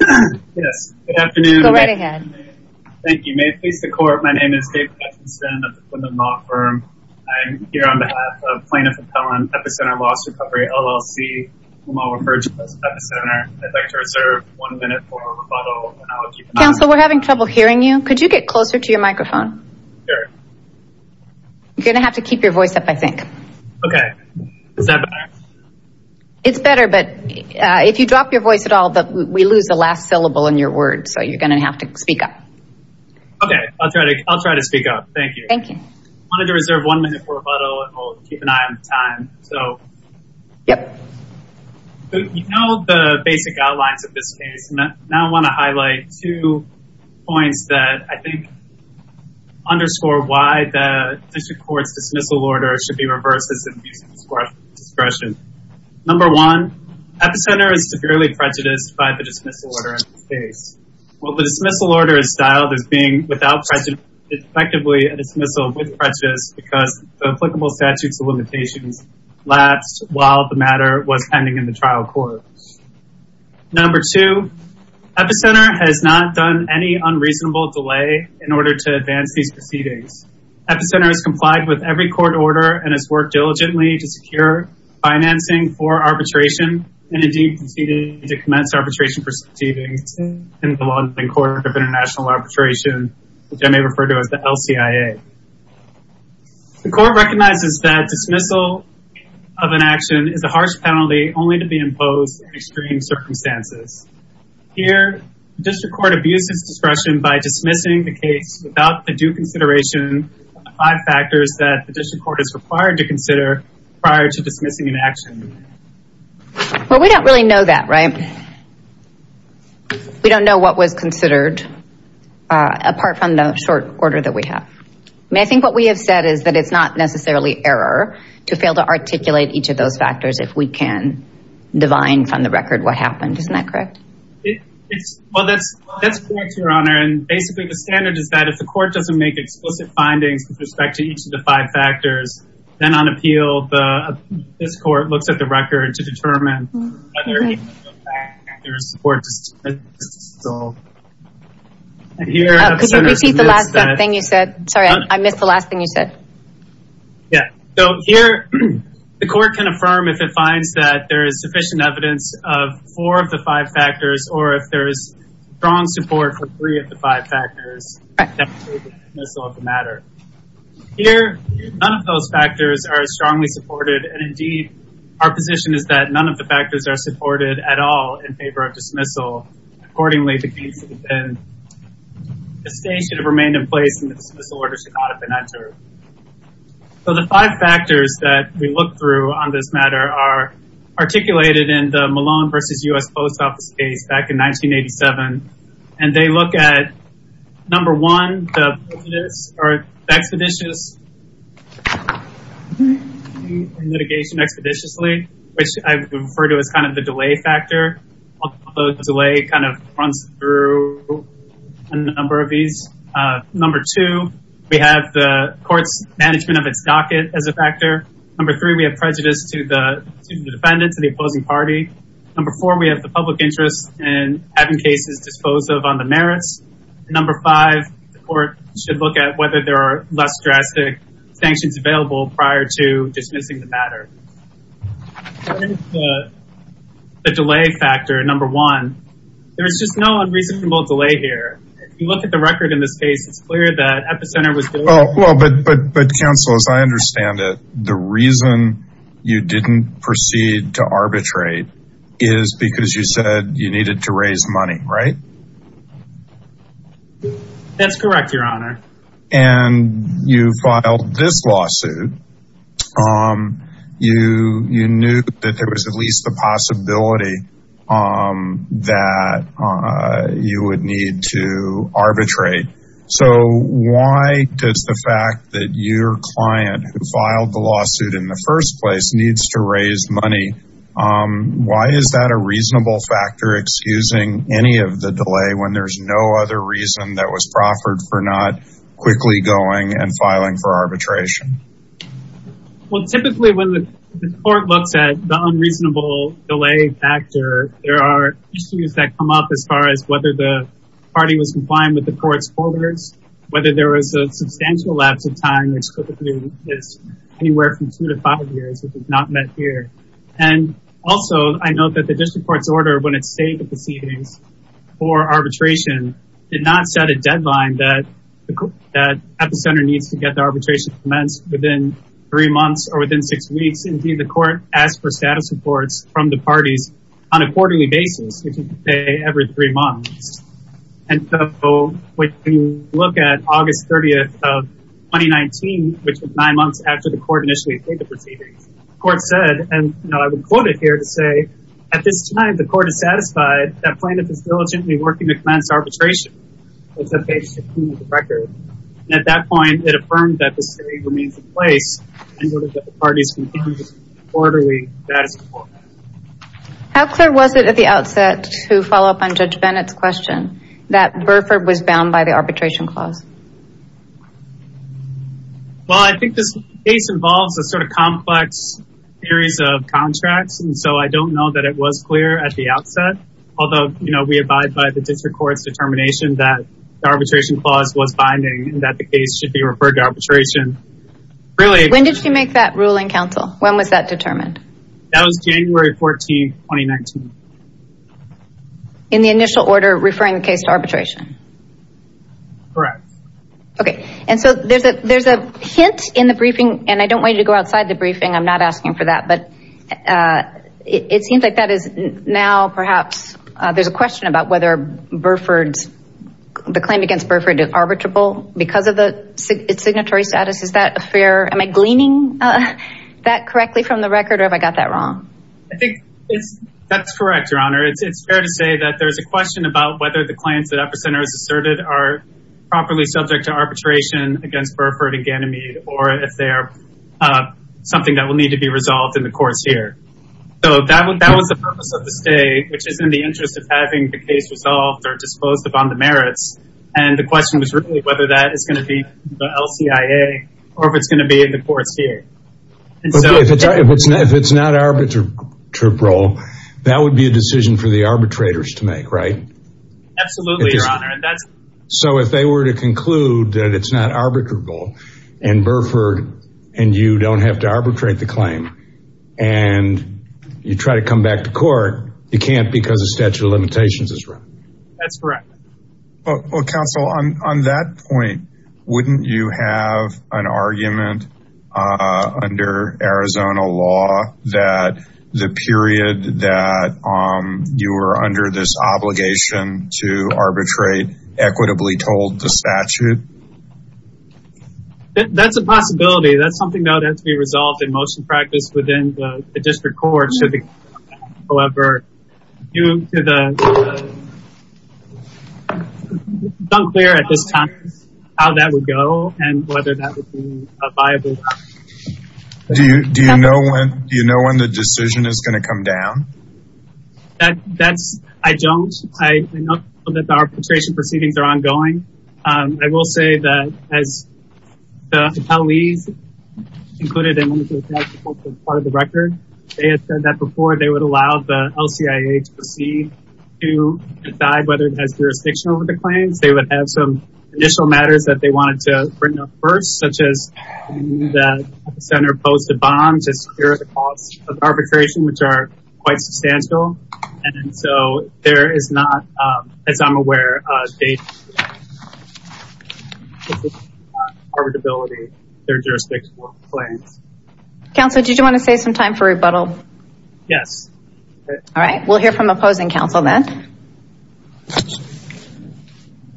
Yes, good afternoon. Go right ahead. Thank you. May it please the court, my name is David Hutchinson of the Quindon Law Firm. I'm here on behalf of Plaintiff Appellant, Epicenter Loss Recovery LLC, whom I'll refer to as Epicenter. I'd like to reserve one minute for rebuttal, and I'll keep my mouth shut. Counsel, we're having trouble hearing you. Could you get closer to your microphone? Sure. You're going to have to keep your voice up, I think. Okay. Is that better? It's better, but if you drop your voice at all, we lose the last syllable in your words, so you're going to have to speak up. Okay. I'll try to speak up. Thank you. Thank you. I wanted to reserve one minute for rebuttal, and we'll keep an eye on the time. Yep. You know the basic outlines of this case. Now I want to highlight two points that I think underscore why the district court's dismissal order should be reversed as an abuse of discretion. Number one, Epicenter is severely prejudiced by the dismissal order in this case. While the dismissal order is styled as being without prejudice, it's effectively a dismissal with prejudice because the applicable statutes of limitations lapsed while the matter was pending in the trial court. Number two, Epicenter has not done any unreasonable delay in order to advance these proceedings. Epicenter has complied with every court order and has worked diligently to secure financing for arbitration and indeed proceeded to commence arbitration proceedings in the London Court of International Arbitration, which I may refer to as the LCIA. The court recognizes that dismissal of an action is a harsh penalty only to be imposed in extreme circumstances. Here, the district court abuses discretion by dismissing the case without the due consideration of the five factors that the district court is required to consider prior to dismissing an action. Well, we don't really know that, right? We don't know what was considered apart from the short order that we have. I mean, I think what we have said is that it's not necessarily error to fail to articulate each of those factors if we can divine from the record what happened. Isn't that correct? Well, that's correct, Your Honor. And basically, the standard is that if the court doesn't make explicit findings with respect to each of the five factors, then on appeal, this court looks at the record to determine whether any of the factors were dismissed. Could you repeat the last thing you said? Sorry, I missed the last thing you said. Yeah, so here, the court can affirm if it finds that there is sufficient evidence of four of the five factors or if there is strong support for three of the five factors. Here, none of those factors are strongly supported. And indeed, our position is that none of the factors are supported at all in favor of dismissal. Accordingly, the case should have been, the state should have remained in place and the dismissal order should not have been entered. So the five factors that we look through on this matter are articulated in the Malone v. U.S. Post Office case back in 1987. And they look at, number one, the expeditious litigation expeditiously, which I refer to as kind of the delay factor. The delay kind of runs through a number of these. Number two, we have the court's management of its docket as a factor. Number three, we have prejudice to the defendant, to the opposing party. Number four, we have the public interest in having cases disposed of on the merits. Number five, the court should look at whether there are less drastic sanctions available prior to dismissing the matter. What is the delay factor, number one? There is just no unreasonable delay here. If you look at the record in this case, it's clear that Epicenter was delayed. Well, but counselors, I understand that the reason you didn't proceed to arbitrate is because you said you needed to raise money, right? That's correct, your honor. And you filed this lawsuit. You knew that there was at least the possibility that you would need to arbitrate. So why does the fact that your client who filed the lawsuit in the first place needs to raise money, why is that a reasonable factor excusing any of the delay when there's no other reason that was proffered for not quickly going and filing for arbitration? Well, typically when the court looks at the unreasonable delay factor, there are issues that come up as far as whether the party was compliant with the court's orders, whether there was a substantial lapse of time, which typically is anywhere from two to five years, which is not met here. And also, I know that the district court's order, when it saved the proceedings for arbitration, did not set a deadline that Epicenter needs to get the arbitration commenced within three months or within six weeks. Indeed, the court asked for status reports from the parties on a quarterly basis, which you pay every three months. And so when you look at August 30th of 2019, which was nine months after the court initially paid the proceedings, the court said, and I would quote it here to say, at this time, the court is satisfied that plaintiff is diligently working to commence arbitration. It's on page 15 of the record. And at that point, it affirmed that the state remains in place in order that the parties can continue to receive quarterly status reports. How clear was it at the outset to follow up on Judge Bennett's question that Burford was bound by the arbitration clause? Well, I think this case involves a sort of complex series of contracts, and so I don't know that it was clear at the outset. Although, you know, we abide by the district court's determination that the arbitration clause was binding and that the case should be referred to arbitration. When did she make that ruling, counsel? When was that determined? That was January 14, 2019. Correct. Okay. And so there's a hint in the briefing, and I don't want you to go outside the briefing. I'm not asking for that. But it seems like that is now perhaps there's a question about whether Burford's claim against Burford is arbitrable because of the signatory status. Is that fair? Am I gleaning that correctly from the record, or have I got that wrong? I think that's correct, Your Honor. It's fair to say that there's a question about whether the claims that Upper Center has asserted are properly subject to arbitration against Burford and Ganymede, or if they are something that will need to be resolved in the courts here. So that was the purpose of the stay, which is in the interest of having the case resolved or disposed upon the merits. And the question was really whether that is going to be the LCIA or if it's going to be in the courts here. If it's not arbitrable, that would be a decision for the arbitrators to make, right? Absolutely, Your Honor. So if they were to conclude that it's not arbitrable and Burford and you don't have to arbitrate the claim and you try to come back to court, you can't because the statute of limitations is wrong. That's correct. Counsel, on that point, wouldn't you have an argument under Arizona law that the period that you were under this obligation to arbitrate equitably told the statute? That's a possibility. That's something that has to be resolved in motion practice within the district court. It's unclear at this time how that would go and whether that would be viable. Do you know when the decision is going to come down? I don't. I know that the arbitration proceedings are ongoing. I will say that as the attorneys included in part of the record, they have said that before. They would allow the LCIA to proceed to decide whether it has jurisdiction over the claims. They would have some initial matters that they wanted to bring up first, such as the center posted bond to secure the cost of arbitration, which are quite substantial. And so there is not, as I'm aware, arbitrability in their jurisdiction over the claims. Counsel, did you want to save some time for rebuttal? Yes. All right. We'll hear from opposing counsel then.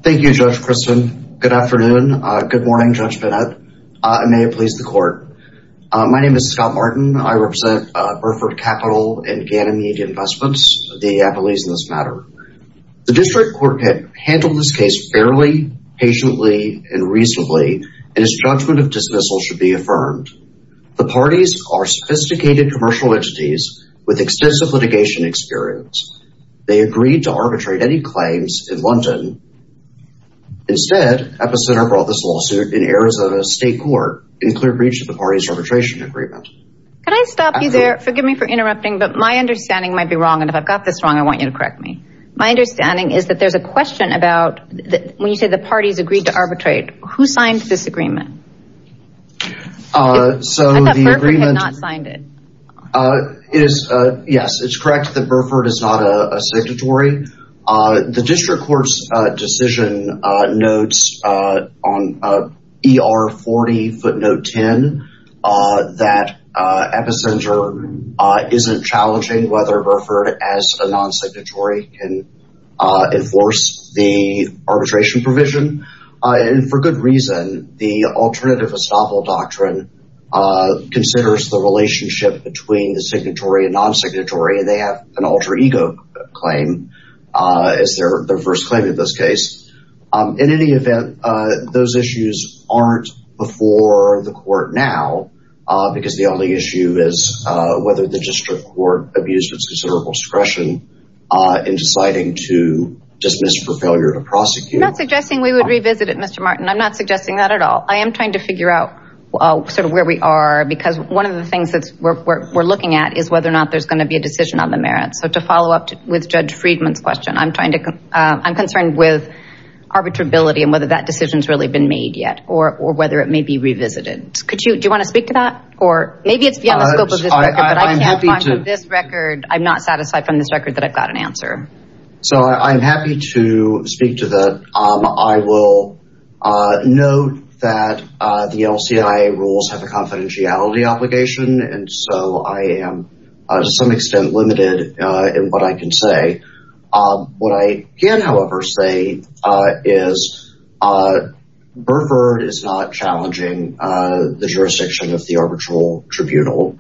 Thank you, Judge Kristen. Good afternoon. Good morning, Judge Bennett. And may it please the court. My name is Scott Martin. I represent Burford Capital and Gannon Media Investments, the Appleys in this matter. The district court handled this case fairly, patiently, and reasonably, and its judgment of dismissal should be affirmed. The parties are sophisticated commercial entities with extensive litigation experience. They agreed to arbitrate any claims in London. Instead, Epicenter brought this lawsuit in Arizona State Court in clear breach of the party's arbitration agreement. Can I stop you there? Forgive me for interrupting, but my understanding might be wrong. And if I've got this wrong, I want you to correct me. My understanding is that there's a question about when you say the parties agreed to arbitrate, who signed this agreement? I thought Burford had not signed it. Yes, it's correct that Burford is not a signatory. The district court's decision notes on ER 40 footnote 10 that Epicenter isn't challenging whether Burford, as a non-signatory, can enforce the arbitration provision. And for good reason. The alternative estoppel doctrine considers the relationship between the signatory and non-signatory. They have an alter ego claim as their first claim in this case. In any event, those issues aren't before the court now, because the only issue is whether the district court abused its considerable discretion in deciding to dismiss for failure to prosecute. I'm not suggesting we would revisit it, Mr. Martin. I'm not suggesting that at all. I am trying to figure out sort of where we are, because one of the things that we're looking at is whether or not there's going to be a decision on the merits. So to follow up with Judge Friedman's question, I'm concerned with arbitrability and whether that decision's really been made yet, or whether it may be revisited. Do you want to speak to that? Maybe it's beyond the scope of this record, but I can't find from this record, I'm not satisfied from this record that I've got an answer. So I'm happy to speak to that. I will note that the LCIA rules have a confidentiality obligation, and so I am to some extent limited in what I can say. What I can, however, say is Burford is not challenging the jurisdiction of the arbitral tribunal,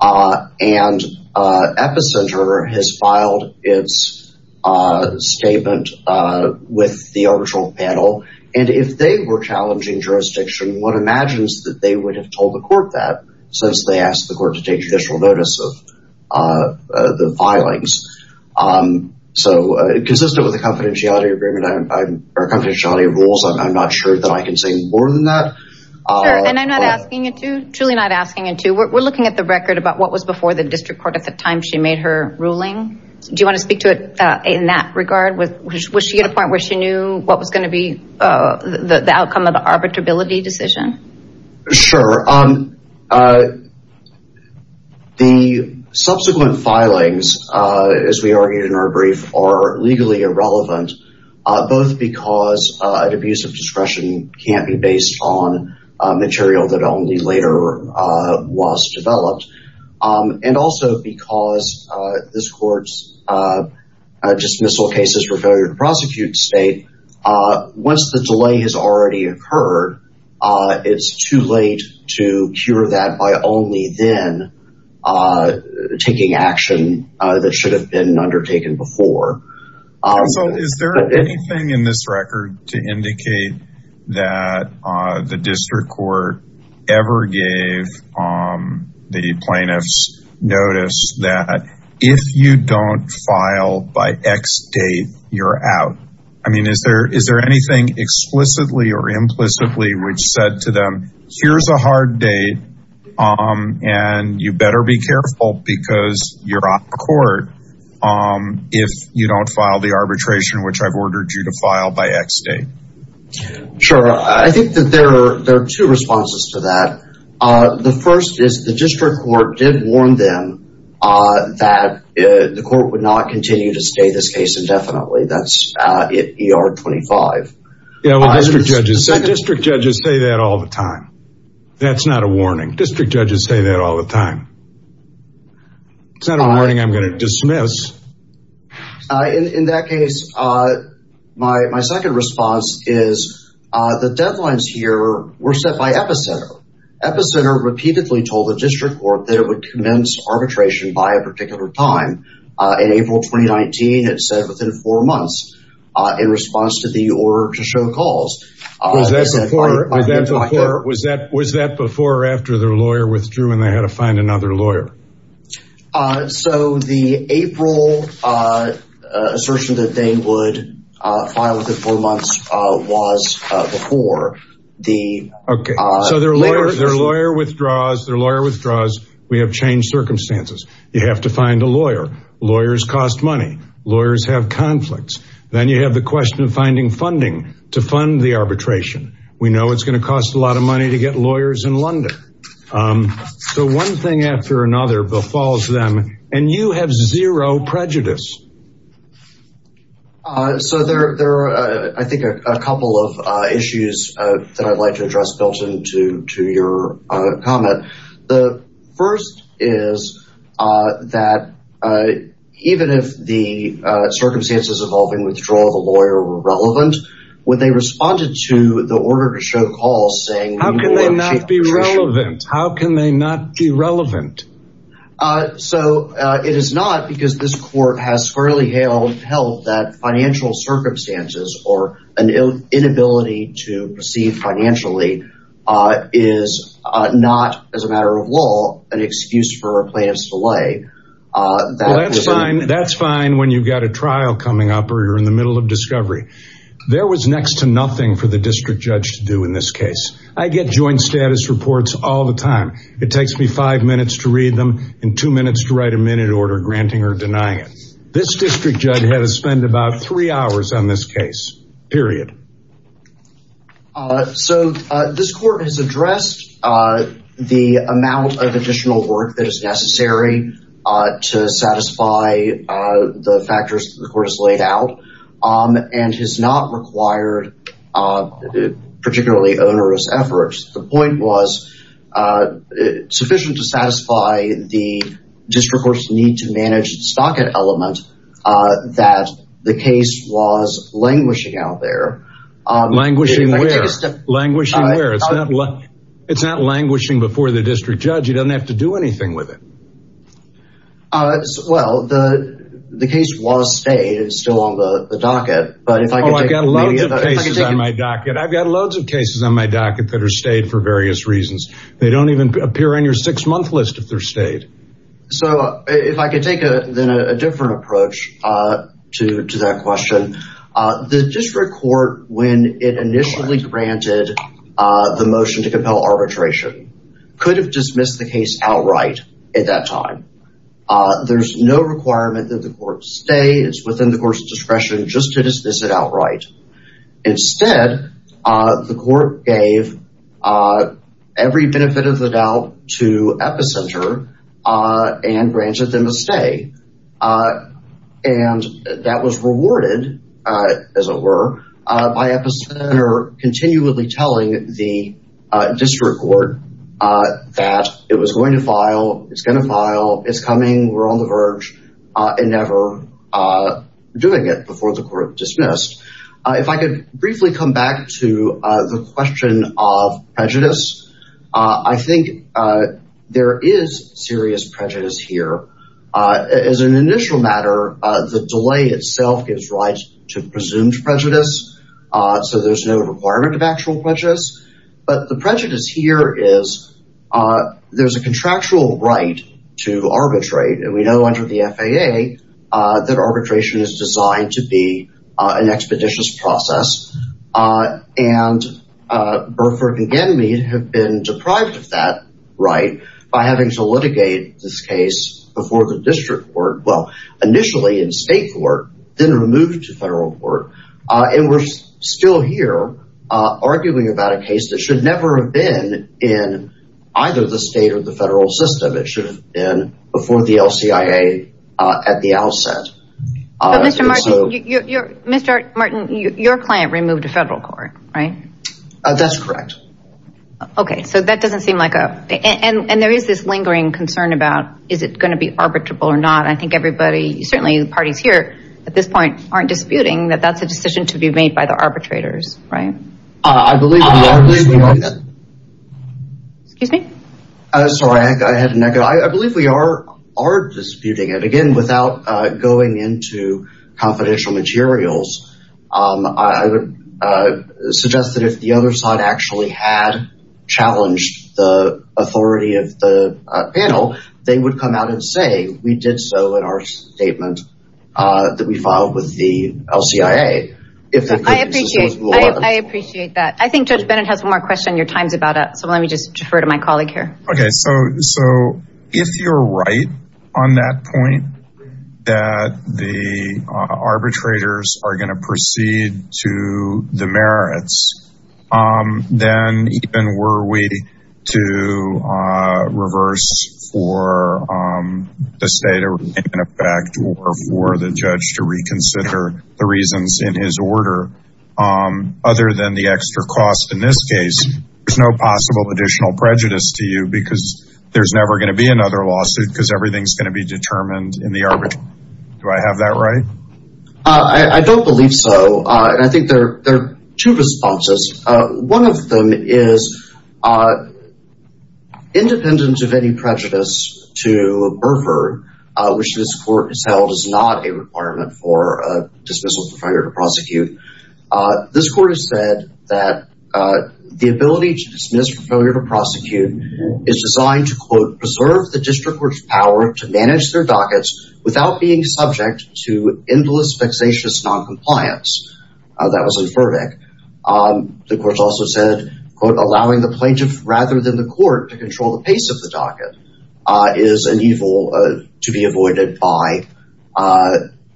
and Epicenter has filed its statement with the arbitral panel. And if they were challenging jurisdiction, one imagines that they would have told the court that, since they asked the court to take judicial notice of the filings. So consistent with the confidentiality rules, I'm not sure that I can say more than that. Sure, and I'm not asking it to, truly not asking it to. We're looking at the record about what was before the district court at the time she made her ruling. Do you want to speak to it in that regard? Was she at a point where she knew what was going to be the outcome of the arbitrability decision? Sure. The subsequent filings, as we argued in our brief, are legally irrelevant, both because an abuse of discretion can't be based on material that only later was developed, and also because this court's dismissal cases for failure to prosecute state, once the delay has already occurred, it's too late to cure that by only then taking action that should have been undertaken before. Also, is there anything in this record to indicate that the district court ever gave the plaintiffs notice that if you don't file by X date, you're out? I mean, is there anything explicitly or implicitly which said to them, here's a hard date, and you better be careful because you're on the court if you don't file the arbitration which I've ordered you to file by X date? Sure, I think that there are two responses to that. The first is the district court did warn them that the court would not continue to stay this case indefinitely. That's ER 25. District judges say that all the time. That's not a warning. District judges say that all the time. It's not a warning I'm going to dismiss. In that case, my second response is the deadlines here were set by Epicenter. Epicenter repeatedly told the district court that it would commence arbitration by a particular time. In April 2019, it said within four months in response to the order to show calls. Was that before or after their lawyer withdrew and they had to find another lawyer? So the April assertion that they would file within four months was before. So their lawyer withdraws, their lawyer withdraws. We have changed circumstances. You have to find a lawyer. Lawyers cost money. Lawyers have conflicts. Then you have the question of finding funding to fund the arbitration. We know it's going to cost a lot of money to get lawyers in London. So one thing after another befalls them. And you have zero prejudice. So there are, I think, a couple of issues that I'd like to address, Milton, to your comment. The first is that even if the circumstances involving withdrawal of a lawyer were relevant, when they responded to the order to show calls saying— How can they not be relevant? How can they not be relevant? So it is not because this court has fairly held that financial circumstances or an inability to proceed financially is not, as a matter of law, an excuse for a plaintiff's delay. That's fine when you've got a trial coming up or you're in the middle of discovery. There was next to nothing for the district judge to do in this case. I get joint status reports all the time. It takes me five minutes to read them and two minutes to write a minute order granting or denying it. This district judge had to spend about three hours on this case. Period. So this court has addressed the amount of additional work that is necessary to satisfy the factors that the court has laid out. And has not required particularly onerous efforts. The point was sufficient to satisfy the district court's need to manage the stocket element that the case was languishing out there. Languishing where? Languishing where? It's not languishing before the district judge. He doesn't have to do anything with it. Well, the case was stayed. It's still on the docket. Oh, I've got loads of cases on my docket. I've got loads of cases on my docket that are stayed for various reasons. They don't even appear on your six-month list if they're stayed. So if I could take a different approach to that question. The district court, when it initially granted the motion to compel arbitration, could have dismissed the case outright at that time. There's no requirement that the court stay. It's within the court's discretion just to dismiss it outright. Instead, the court gave every benefit of the doubt to Epicenter and granted them a stay. And that was rewarded, as it were, by Epicenter continually telling the district court that it was going to file. It's going to file. It's coming. We're on the verge. And never doing it before the court dismissed. If I could briefly come back to the question of prejudice, I think there is serious prejudice here. As an initial matter, the delay itself gives rise to presumed prejudice. So there's no requirement of actual prejudice. But the prejudice here is there's a contractual right to arbitrate. And we know under the FAA that arbitration is designed to be an expeditious process. And Burford and Genmead have been deprived of that right by having to litigate this case before the district court. Well, initially in state court, then removed to federal court. And we're still here arguing about a case that should never have been in either the state or the federal system. It should have been before the LCIA at the outset. Mr. Martin, your client removed to federal court, right? That's correct. Okay. So that doesn't seem like a. And there is this lingering concern about is it going to be arbitrable or not? I think everybody, certainly the parties here at this point aren't disputing that that's a decision to be made by the arbitrators. Right. I believe. Excuse me. Sorry. I had an echo. I believe we are are disputing it again without going into confidential materials. I would suggest that if the other side actually had challenged the authority of the panel, they would come out and say we did so in our statement that we filed with the LCIA. I appreciate that. I think Judge Bennett has one more question. Your time's about up. So let me just defer to my colleague here. Okay. So if you're right on that point, that the arbitrators are going to proceed to the merits, then even were we to reverse for the state in effect or for the judge to reconsider the reasons in his order, other than the extra cost in this case, there's no possible additional prejudice to you because there's never going to be another lawsuit because everything's going to be determined in the arbitration. Do I have that right? I don't believe so. And I think there are two responses. One of them is independent of any prejudice to Burford, which this court has held is not a requirement for dismissal for failure to prosecute. This court has said that the ability to dismiss for failure to prosecute is designed to, quote, preserve the district court's power to manage their dockets without being subject to endless, vexatious noncompliance. That was in Furvick. The court also said, quote, allowing the plaintiff rather than the court to control the pace of the docket is an evil to be avoided by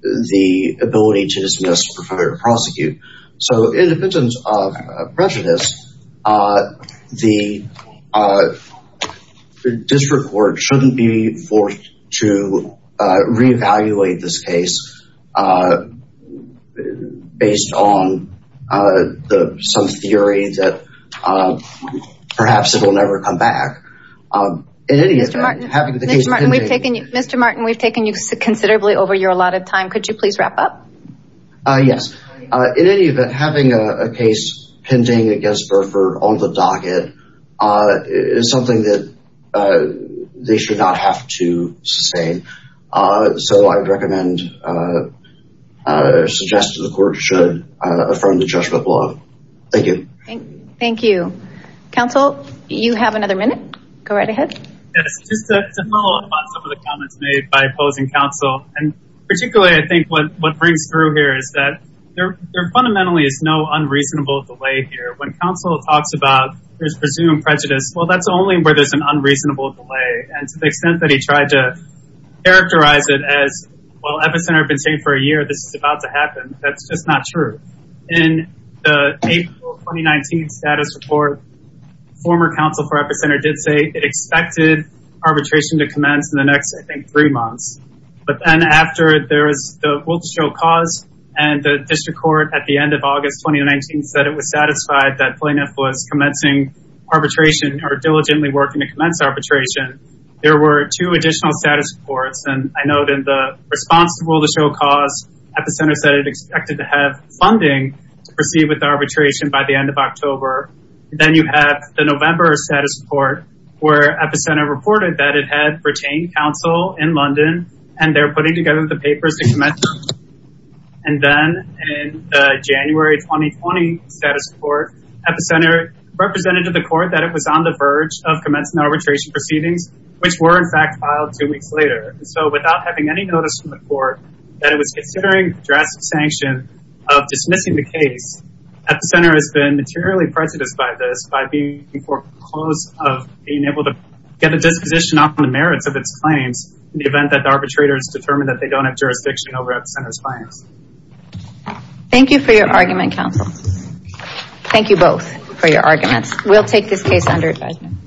the ability to dismiss for failure to prosecute. So in the presence of prejudice, the district court shouldn't be forced to reevaluate this case based on some theory that perhaps it will never come back. Mr. Martin, we've taken you considerably over your allotted time. Could you please wrap up? Yes. In any event, having a case pending against Burford on the docket is something that they should not have to sustain. So I'd recommend or suggest that the court should affirm the judgment law. Thank you. Thank you. Counsel, you have another minute. Go right ahead. Just to follow up on some of the comments made by opposing counsel, and particularly I think what brings through here is that there fundamentally is no unreasonable delay here. When counsel talks about there's presumed prejudice, well, that's only where there's an unreasonable delay. And to the extent that he tried to characterize it as, well, Epicenter have been saying for a year this is about to happen, that's just not true. In the April 2019 status report, former counsel for Epicenter did say it expected arbitration to commence in the next, I think, three months. But then after there was the will to show cause and the district court at the end of August 2019 said it was satisfied that plaintiff was commencing arbitration or diligently working to commence arbitration, there were two additional status reports. And I note in the response to the will to show cause, Epicenter said it expected to have funding to proceed with arbitration by the end of October. Then you have the November status report where Epicenter reported that it had retained counsel in London and they're putting together the papers to commence. And then in the January 2020 status report, Epicenter represented to the court that it was on the verge of commencing arbitration proceedings, which were in fact filed two weeks later. So without having any notice from the court that it was considering drastic sanction of dismissing the case, Epicenter has been materially prejudiced by this by being foreclosed of being able to get a disposition on the merits of its claims in the event that the arbitrators determine that they don't have jurisdiction over Epicenter's claims. Thank you for your argument, counsel. Thank you both for your arguments. We'll take this case under advisement.